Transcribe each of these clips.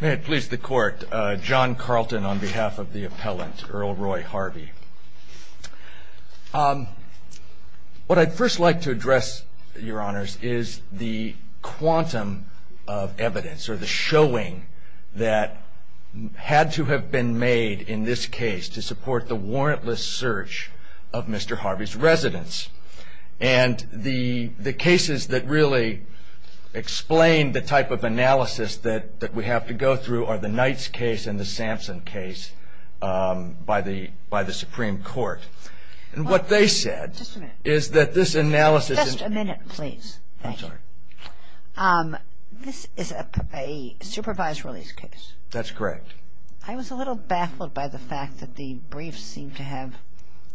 May it please the court, John Carlton on behalf of the appellant, Earl Roy Harvey. What I'd first like to address, your honors, is the quantum of evidence, or the showing, that had to have been made in this case to support the warrantless search of Mr. Harvey's residence. And the cases that really explain the type of analysis that we have to go through are the Knight's case and the Sampson case by the Supreme Court. And what they said is that this analysis. Just a minute, please. I'm sorry. This is a supervised release case. That's correct. I was a little baffled by the fact that the brief seemed to have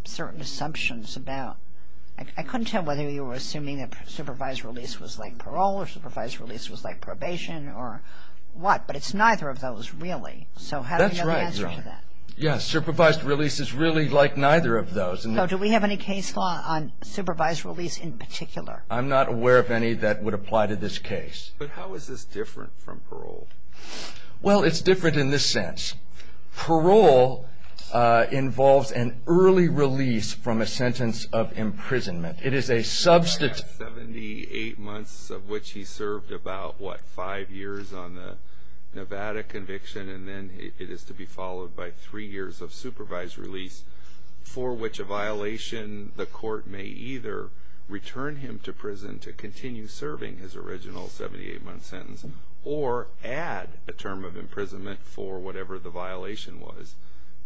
certain assumptions about. I couldn't tell whether you were assuming that supervised release was like parole or supervised release was like probation or what. But it's neither of those really. So how do we know the answer to that? That's right, your honor. Yes, supervised release is really like neither of those. So do we have any case law on supervised release in particular? I'm not aware of any that would apply to this case. But how is this different from parole? Well, it's different in this sense. Parole involves an early release from a sentence of imprisonment. It is a substantive. 78 months of which he served about, what, five years on the Nevada conviction and then it is to be followed by three years of supervised release for which a violation the court may either return him to prison to continue serving his original 78-month sentence or add a term of imprisonment for whatever the violation was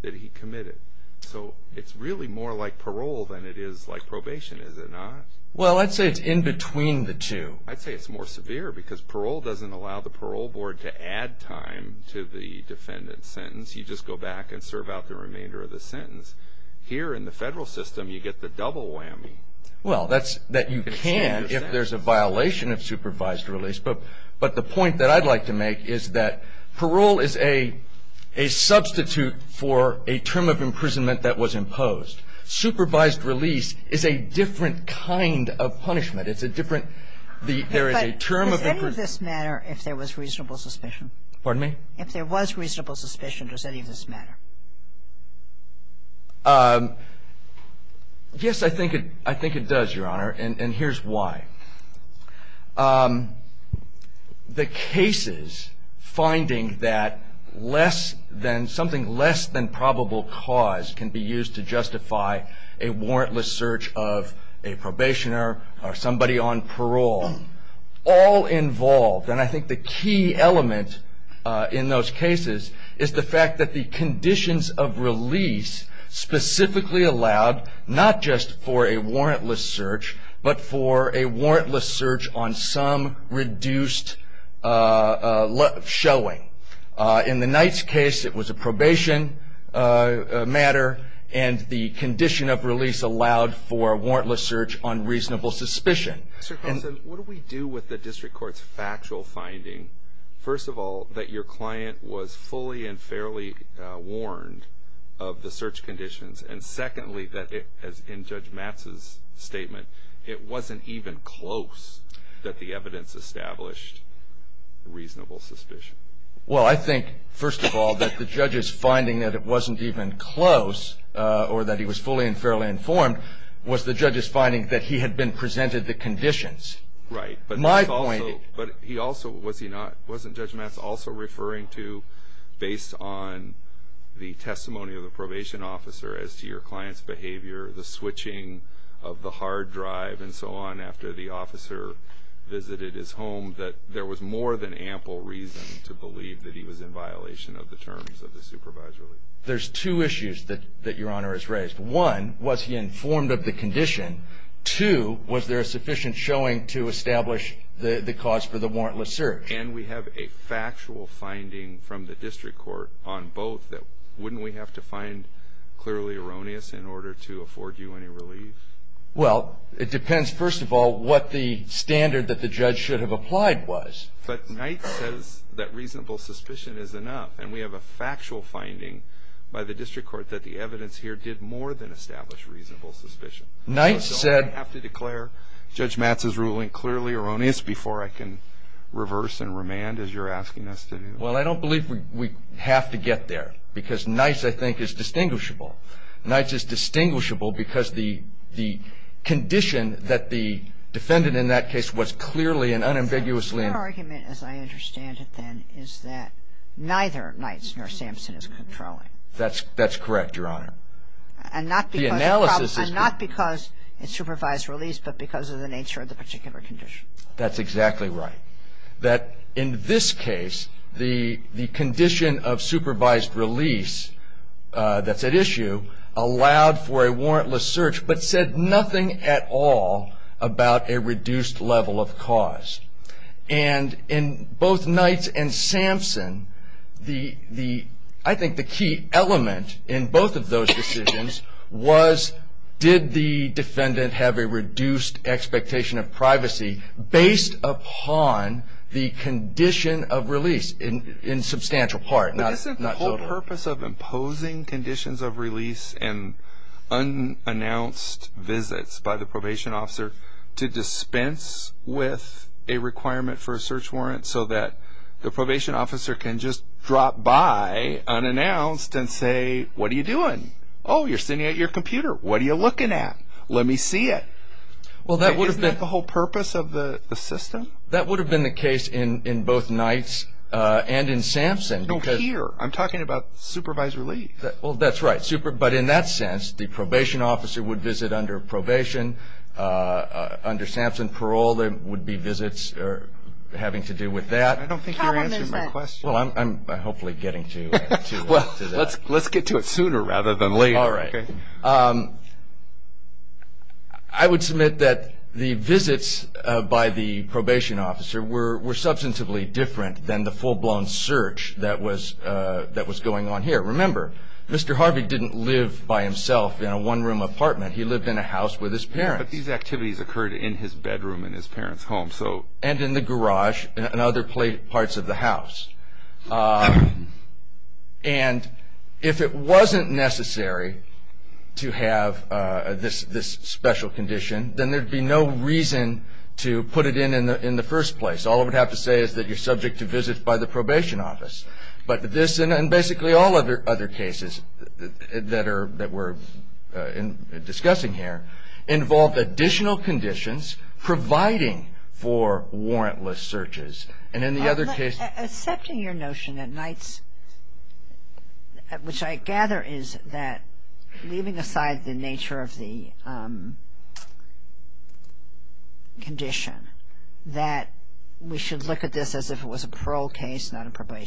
that he committed. So it's really more like parole than it is like probation, is it not? Well, I'd say it's in between the two. I'd say it's more severe because parole doesn't allow the parole board to add time to the defendant's sentence. You just go back and serve out the remainder of the sentence. Here in the federal system, you get the double whammy. Well, that you can if there's a violation of supervised release. But the point that I'd like to make is that parole is a substitute for a term of imprisonment that was imposed. Supervised release is a different kind of punishment. It's a different there is a term of imprisonment. Does any of this matter if there was reasonable suspicion? Pardon me? If there was reasonable suspicion, does any of this matter? Yes, I think it does, Your Honor, and here's why. The cases finding that something less than probable cause can be used to justify a warrantless search of a probationer or somebody on parole, all involved, and I think the key element in those cases is the fact that the conditions of release specifically allowed not just for a warrantless search, but for a warrantless search on some reduced showing. In the Knight's case, it was a probation matter, and the condition of release allowed for a warrantless search on reasonable suspicion. Mr. Carlson, what do we do with the district court's factual finding? First of all, that your client was fully and fairly warned of the search conditions, and secondly, that as in Judge Matz's statement, it wasn't even close that the evidence established reasonable suspicion. Well, I think, first of all, that the judge's finding that it wasn't even close or that he was fully and fairly informed was the judge's finding that he had been presented the conditions. Right, but he also, wasn't Judge Matz also referring to based on the testimony of the probation officer as to your client's behavior, the switching of the hard drive and so on after the officer visited his home, that there was more than ample reason to believe that he was in violation of the terms of the supervisory release? There's two issues that your Honor has raised. One, was he informed of the condition? Two, was there a sufficient showing to establish the cause for the warrantless search? And we have a factual finding from the district court on both that wouldn't we have to find clearly erroneous in order to afford you any relief? Well, it depends, first of all, what the standard that the judge should have applied was. But Knight says that reasonable suspicion is enough, and we have a factual finding by the district court that the evidence here did more than establish reasonable suspicion. Knight said... So I don't have to declare Judge Matz's ruling clearly erroneous before I can reverse and remand as you're asking us to do. Well, I don't believe we have to get there because Knight's, I think, is distinguishable. Knight's is distinguishable because the condition that the defendant in that case was clearly and unambiguously... Your argument, as I understand it then, is that neither Knight's nor Sampson is controlling. That's correct, Your Honor. And not because... The analysis is... And not because it's supervised release, but because of the nature of the particular condition. That's exactly right. That in this case, the condition of supervised release that's at issue allowed for a warrantless search, but said nothing at all about a reduced level of cause. And in both Knight's and Sampson, I think the key element in both of those decisions was did the defendant have a reduced expectation of privacy based upon the condition of release, in substantial part, not total. But isn't the whole purpose of imposing conditions of release and unannounced visits by the probation officer to dispense with a requirement for a search warrant so that the probation officer can just drop by unannounced and say, what are you doing? Oh, you're sitting at your computer. What are you looking at? Let me see it. Well, that would have been... Isn't that the whole purpose of the system? That would have been the case in both Knight's and in Sampson because... No, here. I'm talking about supervised release. Well, that's right. But in that sense, the probation officer would visit under probation. Under Sampson parole, there would be visits having to do with that. I don't think you're answering my question. Well, I'm hopefully getting to that. Let's get to it sooner rather than later. All right. I would submit that the visits by the probation officer were substantively different than the full-blown search that was going on here. Remember, Mr. Harvey didn't live by himself in a one-room apartment. He lived in a house with his parents. But these activities occurred in his bedroom in his parents' home. And in the garage and other parts of the house. And if it wasn't necessary to have this special condition, then there would be no reason to put it in in the first place. All it would have to say is that you're subject to visits by the probation office. But this and basically all of the other cases that we're discussing here involve additional conditions providing for warrantless searches. Accepting your notion that Knights, which I gather is that leaving aside the nature of the condition, that we should look at this as if it was a probation case, not a parole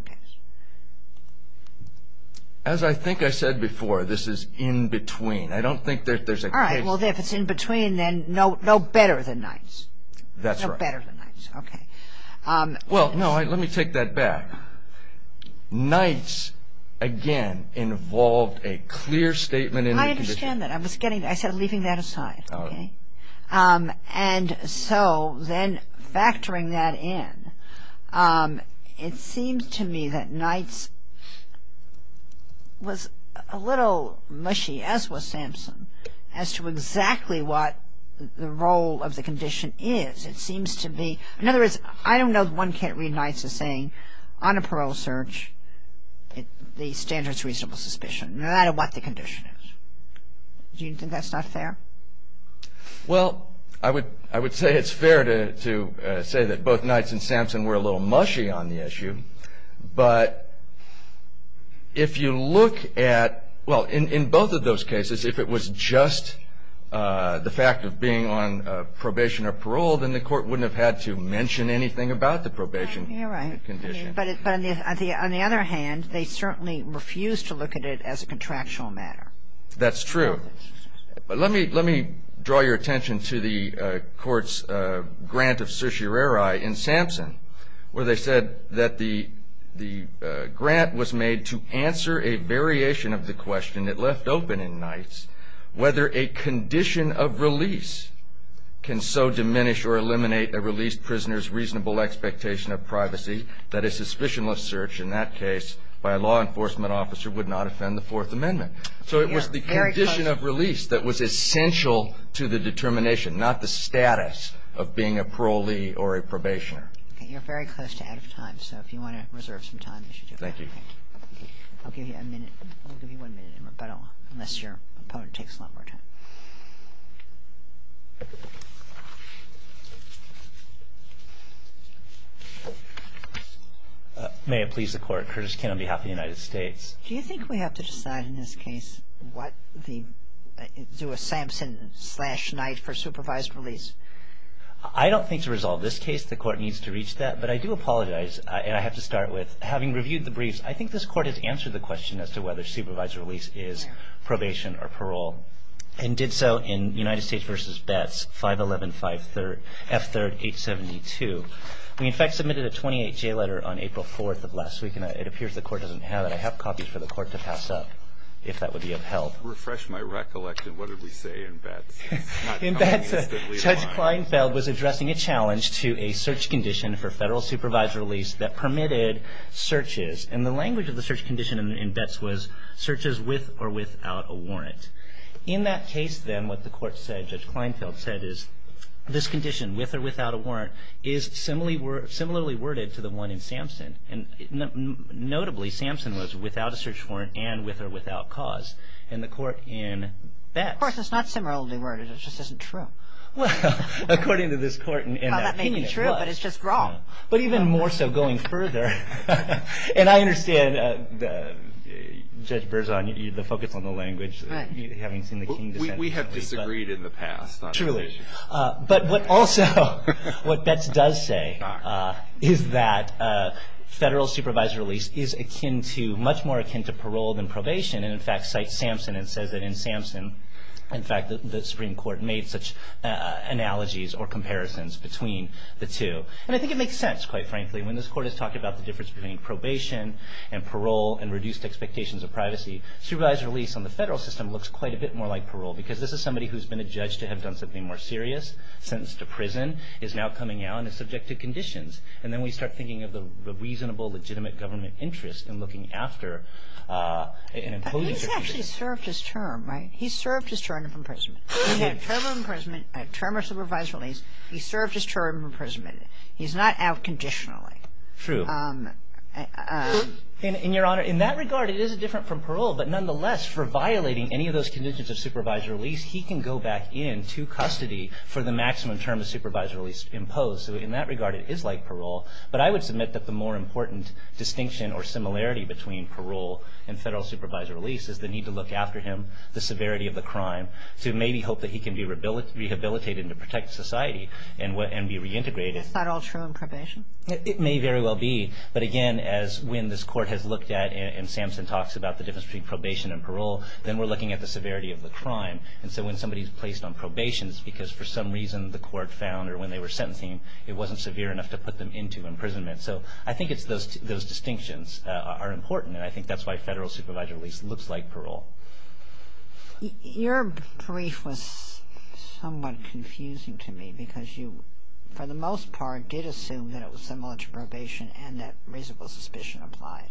case. As I think I said before, this is in between. I don't think that there's a case. Well, if it's in between, then no better than Knights. That's right. No better than Knights. Okay. Well, no, let me take that back. Knights, again, involved a clear statement in the condition. I understand that. I said leaving that aside. Okay. And so then factoring that in, it seems to me that Knights was a little mushy, as was Sampson, as to exactly what the role of the condition is. It seems to be, in other words, I don't know that one can't read Knights as saying on a parole search, the standard's reasonable suspicion, no matter what the condition is. Do you think that's not fair? Well, I would say it's fair to say that both Knights and Sampson were a little mushy on the issue. But if you look at, well, in both of those cases, if it was just the fact of being on probation or parole, then the Court wouldn't have had to mention anything about the probation condition. Yeah, right. But on the other hand, they certainly refused to look at it as a contractual matter. That's true. Let me draw your attention to the Court's grant of certiorari in Sampson, where they said that the grant was made to answer a variation of the question that left open in Knights whether a condition of release can so diminish or eliminate a released prisoner's reasonable expectation of privacy that a suspicionless search, in that case, by a law enforcement officer would not offend the Fourth Amendment. So it was the condition of release that was essential to the determination, not the status of being a parolee or a probationer. Okay. You're very close to out of time, so if you want to reserve some time, you should do that. Thank you. I'll give you a minute. I'll give you one minute in rebuttal, unless your opponent takes a lot more time. May it please the Court. Curtis King on behalf of the United States. Do you think we have to decide in this case what the – do a Sampson slash Knight for supervised release? I don't think to resolve this case, the Court needs to reach that. But I do apologize, and I have to start with, having reviewed the briefs, I think this Court has answered the question as to whether supervised release is probation or parole, and did so in United States v. Betts, 511-5-3rd – F-3rd-872. We, in fact, submitted a 28-J letter on April 4th of last week, and it appears the Court doesn't have it. I have copies for the Court to pass up, if that would be of help. Refresh my recollection. What did we say in Betts? Judge Kleinfeld was addressing a challenge to a search condition for federal supervised release that permitted searches. And the language of the search condition in Betts was searches with or without a warrant. In that case, then, what the Court said, Judge Kleinfeld said, is this condition, with or without a warrant, is similarly worded to the one in Sampson. Notably, Sampson was without a search warrant and with or without cause in the Court in Betts. Of course, it's not similarly worded. It just isn't true. Well, according to this Court in that opinion, it was. Well, that may be true, but it's just wrong. But even more so, going further, and I understand, Judge Berzon, the focus on the language, having seen the King defendant. We have disagreed in the past on this issue. But also, what Betts does say is that federal supervised release is much more akin to parole than probation. And in fact, cites Sampson and says that in Sampson, in fact, the Supreme Court made such analogies or comparisons between the two. And I think it makes sense, quite frankly, when this Court is talking about the difference between probation and parole and reduced expectations of privacy. Supervised release on the federal system looks quite a bit more like parole because this is somebody who's been adjudged to have done something more serious, sentenced to prison, is now coming out and is subject to conditions. And then we start thinking of the reasonable, legitimate government interest in looking after and encoding their conditions. But he's actually served his term, right? He's served his term of imprisonment. He's had a term of imprisonment, a term of supervised release. He's served his term of imprisonment. He's not out conditionally. True. And, Your Honor, in that regard, it is different from parole. But nonetheless, for violating any of those conditions of supervised release, he can go back into custody for the maximum term of supervised release imposed. So in that regard, it is like parole. But I would submit that the more important distinction or similarity between parole and federal supervised release is the need to look after him, the severity of the crime, to maybe hope that he can be rehabilitated and protect society and be reintegrated. Is that all true in probation? It may very well be. But, again, when this Court has looked at, and Samson talks about the difference between probation and parole, then we're looking at the severity of the crime. And so when somebody's placed on probation, it's because for some reason the Court found or when they were sentencing, it wasn't severe enough to put them into imprisonment. So I think those distinctions are important, and I think that's why federal supervised release looks like parole. Your brief was somewhat confusing to me because you, for the most part, did assume that it was similar to probation and that reasonable suspicion applied.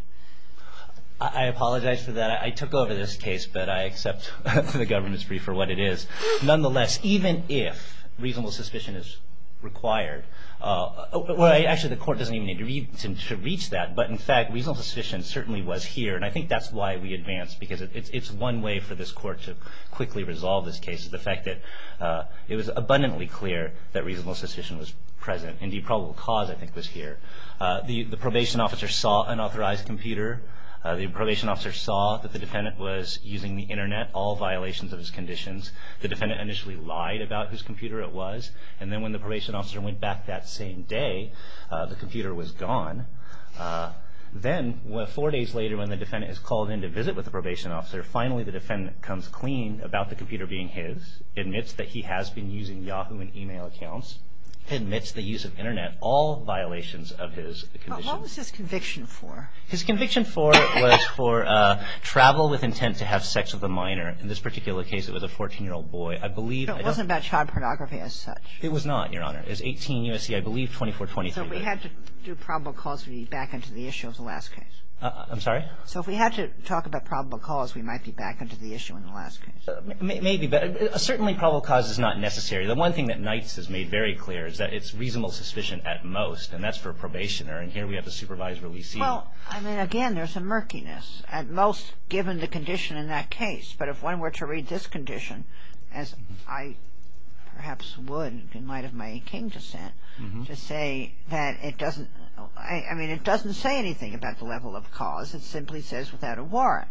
I apologize for that. I took over this case, but I accept the government's brief for what it is. Nonetheless, even if reasonable suspicion is required, well, actually, the Court doesn't even need to reach that. But, in fact, reasonable suspicion certainly was here, and I think that's why we advanced, because it's one way for this Court to quickly resolve this case, the fact that it was abundantly clear that reasonable suspicion was present. And the probable cause, I think, was here. The probation officer saw an unauthorized computer. The probation officer saw that the defendant was using the Internet, all violations of his conditions. The defendant initially lied about whose computer it was, and then when the probation officer went back that same day, the computer was gone. Then, four days later, when the defendant is called in to visit with the probation officer, finally the defendant comes clean about the computer being his, admits that he has been using Yahoo and email accounts, admits the use of Internet, all violations of his conditions. But what was his conviction for? His conviction for was for travel with intent to have sex with a minor. In this particular case, it was a 14-year-old boy. I believe — But it wasn't about child pornography as such. It was not, Your Honor. It was 18 U.S.C., I believe, 2423. So we had to do probable cause to be back into the issue of the last case. I'm sorry? So if we had to talk about probable cause, we might be back into the issue in the last case. Maybe, but certainly probable cause is not necessary. The one thing that Knights has made very clear is that it's reasonable suspicion at most, and that's for a probationer, and here we have the supervisor, Lee Siegel. Well, I mean, again, there's a murkiness, at most given the condition in that case. But if one were to read this condition, as I perhaps would in light of my in-king descent, to say that it doesn't — I mean, it doesn't say anything about the level of cause. It simply says without a warrant.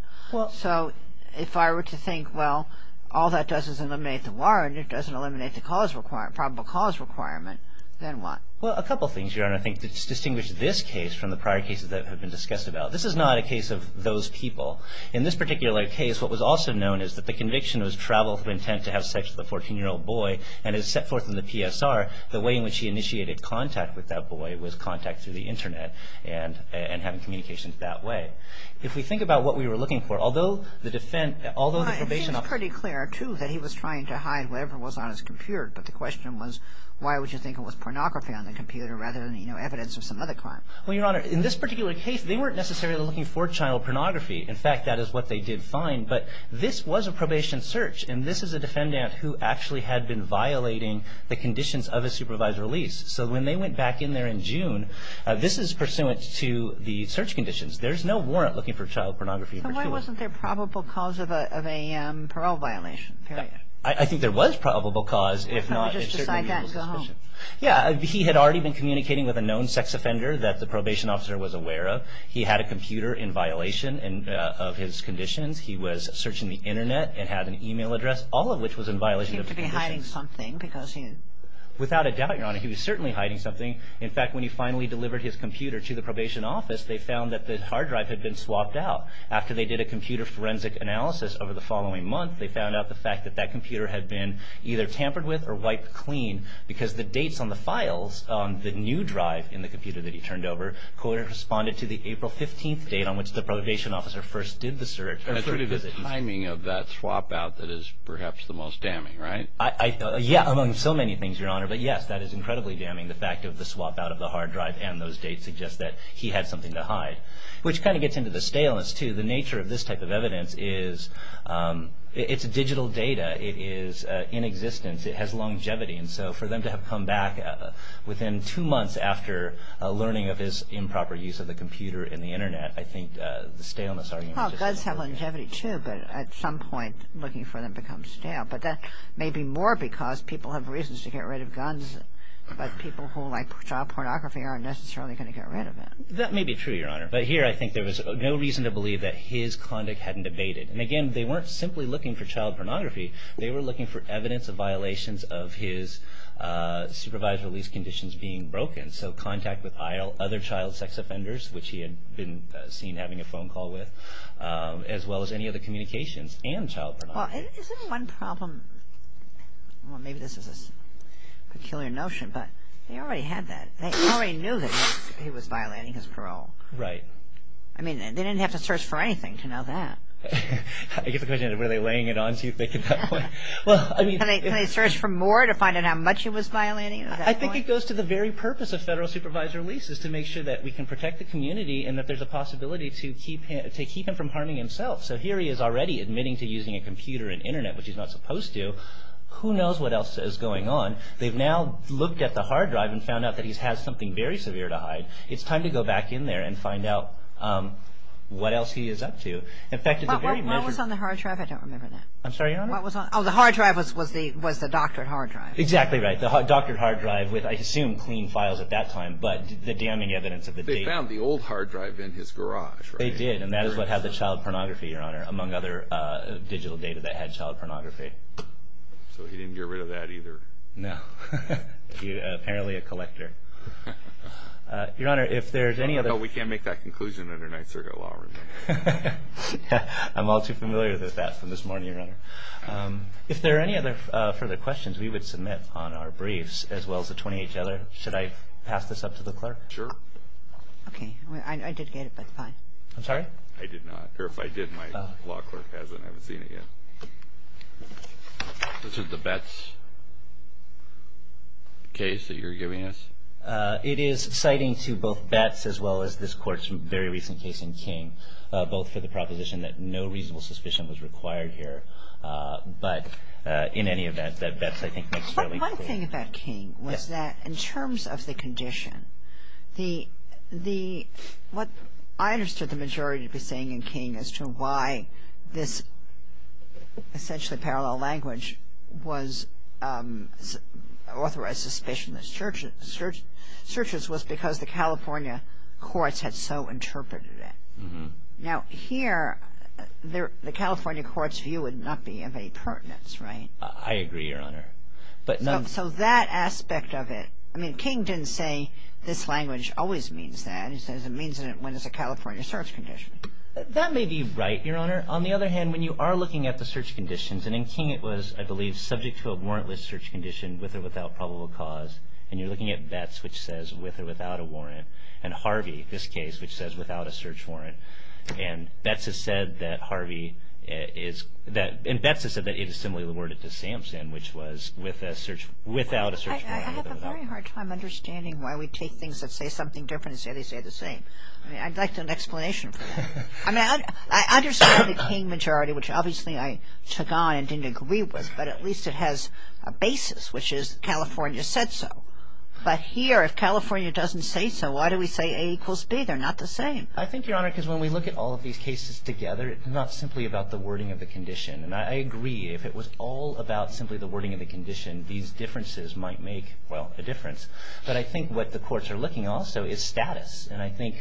So if I were to think, well, all that does is eliminate the warrant. It doesn't eliminate the probable cause requirement. Then what? Well, a couple things, Your Honor, I think distinguish this case from the prior cases that have been discussed about. This is not a case of those people. In this particular case, what was also known is that the conviction was travel through intent to have sex with a 14-year-old boy, and as set forth in the PSR, the way in which he initiated contact with that boy was contact through the Internet and having communications that way. If we think about what we were looking for, although the defense — It was pretty clear, too, that he was trying to hide whatever was on his computer. But the question was, why would you think it was pornography on the computer rather than, you know, evidence of some other crime? Well, Your Honor, in this particular case, they weren't necessarily looking for child pornography. In fact, that is what they did find. But this was a probation search, and this is a defendant who actually had been violating the conditions of a supervised release. So when they went back in there in June, this is pursuant to the search conditions. There's no warrant looking for child pornography. So why wasn't there probable cause of a parole violation, period? I think there was probable cause. If not, it's certainly legal suspicion. Yeah, he had already been communicating with a known sex offender that the probation officer was aware of. He had a computer in violation of his conditions. He was searching the Internet and had an email address, all of which was in violation of the conditions. He seemed to be hiding something because he — Without a doubt, Your Honor. He was certainly hiding something. In fact, when he finally delivered his computer to the probation office, they found that the hard drive had been swapped out. After they did a computer forensic analysis over the following month, they found out the fact that that computer had been either tampered with or wiped clean because the dates on the files on the new drive in the computer that he turned over corresponded to the April 15th date on which the probation officer first did the search — That's really the timing of that swap out that is perhaps the most damning, right? Yeah, among so many things, Your Honor. But yes, that is incredibly damning, the fact of the swap out of the hard drive and those dates that suggest that he had something to hide, which kind of gets into the staleness, too. The nature of this type of evidence is it's digital data. It is in existence. It has longevity. And so for them to have come back within two months after learning of his improper use of the computer and the Internet, I think the staleness argument — Well, guns have longevity, too, but at some point looking for them becomes stale. But that may be more because people have reasons to get rid of guns, but people who like child pornography aren't necessarily going to get rid of it. That may be true, Your Honor. But here I think there was no reason to believe that his conduct hadn't abated. And again, they weren't simply looking for child pornography. They were looking for evidence of violations of his supervised release conditions being broken, so contact with other child sex offenders, which he had been seen having a phone call with, as well as any other communications and child pornography. Well, isn't one problem — well, maybe this is a peculiar notion, but they already had that. They already knew that he was violating his parole. Right. I mean, they didn't have to search for anything to know that. I guess the question is, were they laying it on too thick at that point? Well, I mean — Can they search for more to find out how much he was violating at that point? I think it goes to the very purpose of federal supervised releases, to make sure that we can protect the community and that there's a possibility to keep him from harming himself. So here he is already admitting to using a computer and Internet, which he's not supposed to. Who knows what else is going on? They've now looked at the hard drive and found out that he has something very severe to hide. It's time to go back in there and find out what else he is up to. In fact, it's a very measured — What was on the hard drive? I don't remember that. I'm sorry, Your Honor? Oh, the hard drive was the doctored hard drive. Exactly right. The doctored hard drive with, I assume, clean files at that time, but the damning evidence of the — They found the old hard drive in his garage, right? They did, and that is what had the child pornography, Your Honor, among other digital data that had child pornography. So he didn't get rid of that either? No. Apparently a collector. Your Honor, if there's any other — No, we can't make that conclusion under Ninth Circuit law, remember? I'm all too familiar with that from this morning, Your Honor. If there are any other further questions, we would submit on our briefs, as well as the 28-Jeller. Should I pass this up to the clerk? Sure. Okay. I did get it, but fine. I'm sorry? I did not. Or if I did, my law clerk hasn't. I haven't seen it yet. This is the Betts case that you're giving us? It is citing to both Betts as well as this Court's very recent case in King, both for the proposition that no reasonable suspicion was required here, but in any event, that Betts, I think, makes fairly clear. The other thing about King was that in terms of the condition, what I understood the majority to be saying in King as to why this essentially parallel language was authorized suspicionless searches was because the California courts had so interpreted it. Now here, the California courts' view would not be of any pertinence, right? I agree, Your Honor. So that aspect of it, I mean, King didn't say this language always means that. He says it means it when it's a California search condition. That may be right, Your Honor. On the other hand, when you are looking at the search conditions, and in King it was, I believe, subject to a warrantless search condition with or without probable cause, and you're looking at Betts, which says with or without a warrant, and Harvey, this case, which says without a search warrant, and Betts has said that it is similarly worded to Samson, which was without a search warrant. I have a very hard time understanding why we take things that say something different and say they say the same. I'd like an explanation for that. I understand the King majority, which obviously I took on and didn't agree with, but at least it has a basis, which is California said so. But here, if California doesn't say so, why do we say A equals B? They're not the same. I think, Your Honor, because when we look at all of these cases together, it's not simply about the wording of the condition, and I agree if it was all about simply the wording of the condition, these differences might make, well, a difference. But I think what the courts are looking at also is status, and I think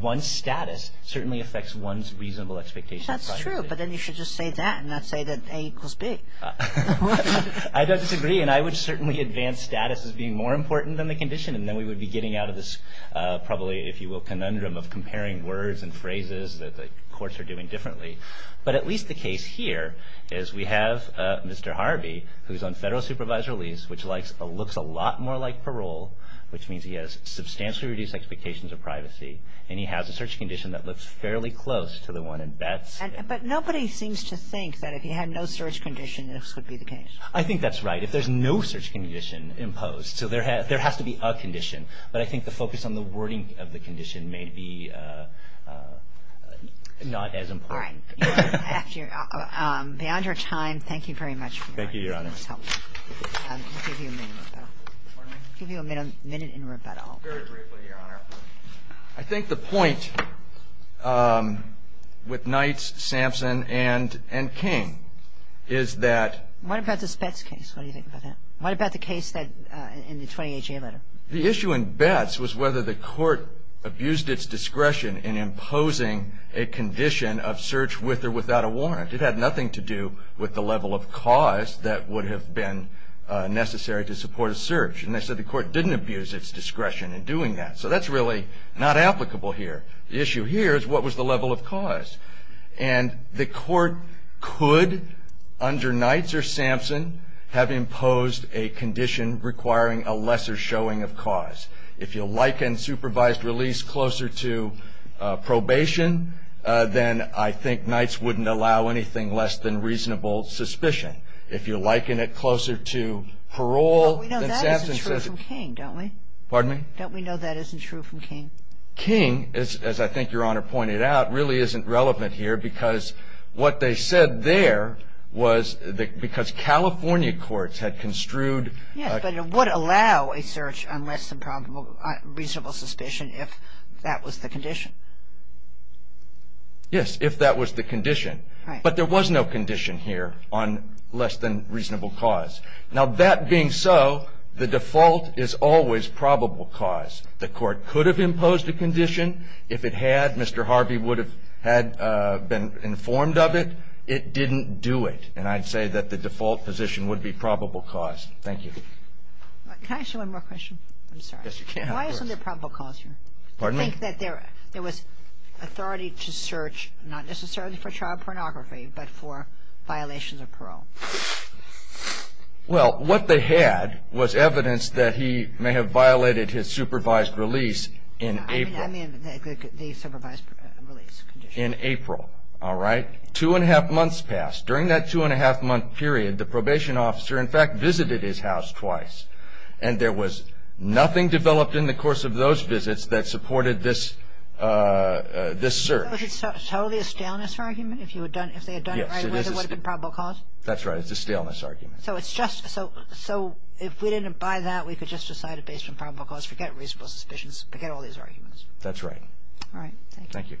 one's status certainly affects one's reasonable expectations. That's true, but then you should just say that and not say that A equals B. I don't disagree, and I would certainly advance status as being more important than the condition, and then we would be getting out of this probably, if you will, conundrum of comparing words and phrases that the courts are doing differently. But at least the case here is we have Mr. Harvey, who's on federal supervisor lease, which looks a lot more like parole, which means he has substantially reduced expectations of privacy, and he has a search condition that looks fairly close to the one in Betz. But nobody seems to think that if he had no search condition, this would be the case. I think that's right. If there's no search condition imposed, so there has to be a condition. But I think the focus on the wording of the condition may be not as important. All right. Beyond your time, thank you very much for your time. Thank you, Your Honor. I'll give you a minute in rebuttal. Pardon me? I'll give you a minute in rebuttal. Very briefly, Your Honor. I think the point with Knights, Sampson, and King is that – What about the Spetz case? What do you think about that? What about the case in the 20HA letter? The issue in Betz was whether the court abused its discretion in imposing a condition of search with or without a warrant. It had nothing to do with the level of cause that would have been necessary to support a search. And they said the court didn't abuse its discretion in doing that. So that's really not applicable here. The issue here is what was the level of cause. And the court could, under Knights or Sampson, have imposed a condition requiring a lesser showing of cause. If you liken supervised release closer to probation, then I think Knights wouldn't allow anything less than reasonable suspicion. If you liken it closer to parole, then Sampson says it's – Well, we know that isn't true from King, don't we? Don't we know that isn't true from King? King, as I think Your Honor pointed out, really isn't relevant here because what they said there was because California courts had construed – Yes, but it would allow a search on less than reasonable suspicion if that was the condition. Yes, if that was the condition. But there was no condition here on less than reasonable cause. Now, that being so, the default is always probable cause. The court could have imposed a condition. If it had, Mr. Harvey would have had been informed of it. It didn't do it. And I'd say that the default position would be probable cause. Thank you. Can I ask you one more question? I'm sorry. Yes, you can. Why isn't there probable cause here? Pardon me? To think that there was authority to search not necessarily for child pornography but for violations of parole. Well, what they had was evidence that he may have violated his supervised release in April. I mean the supervised release condition. In April, all right? Two and a half months passed. During that two and a half month period, the probation officer, in fact, visited his house twice. And there was nothing developed in the course of those visits that supported this search. So is it totally a staleness argument? If they had done it right, it would have been probable cause? That's right. It's a staleness argument. So if we didn't buy that, we could just decide it based on probable cause, forget reasonable suspicions, forget all these arguments. That's right. All right. Thank you.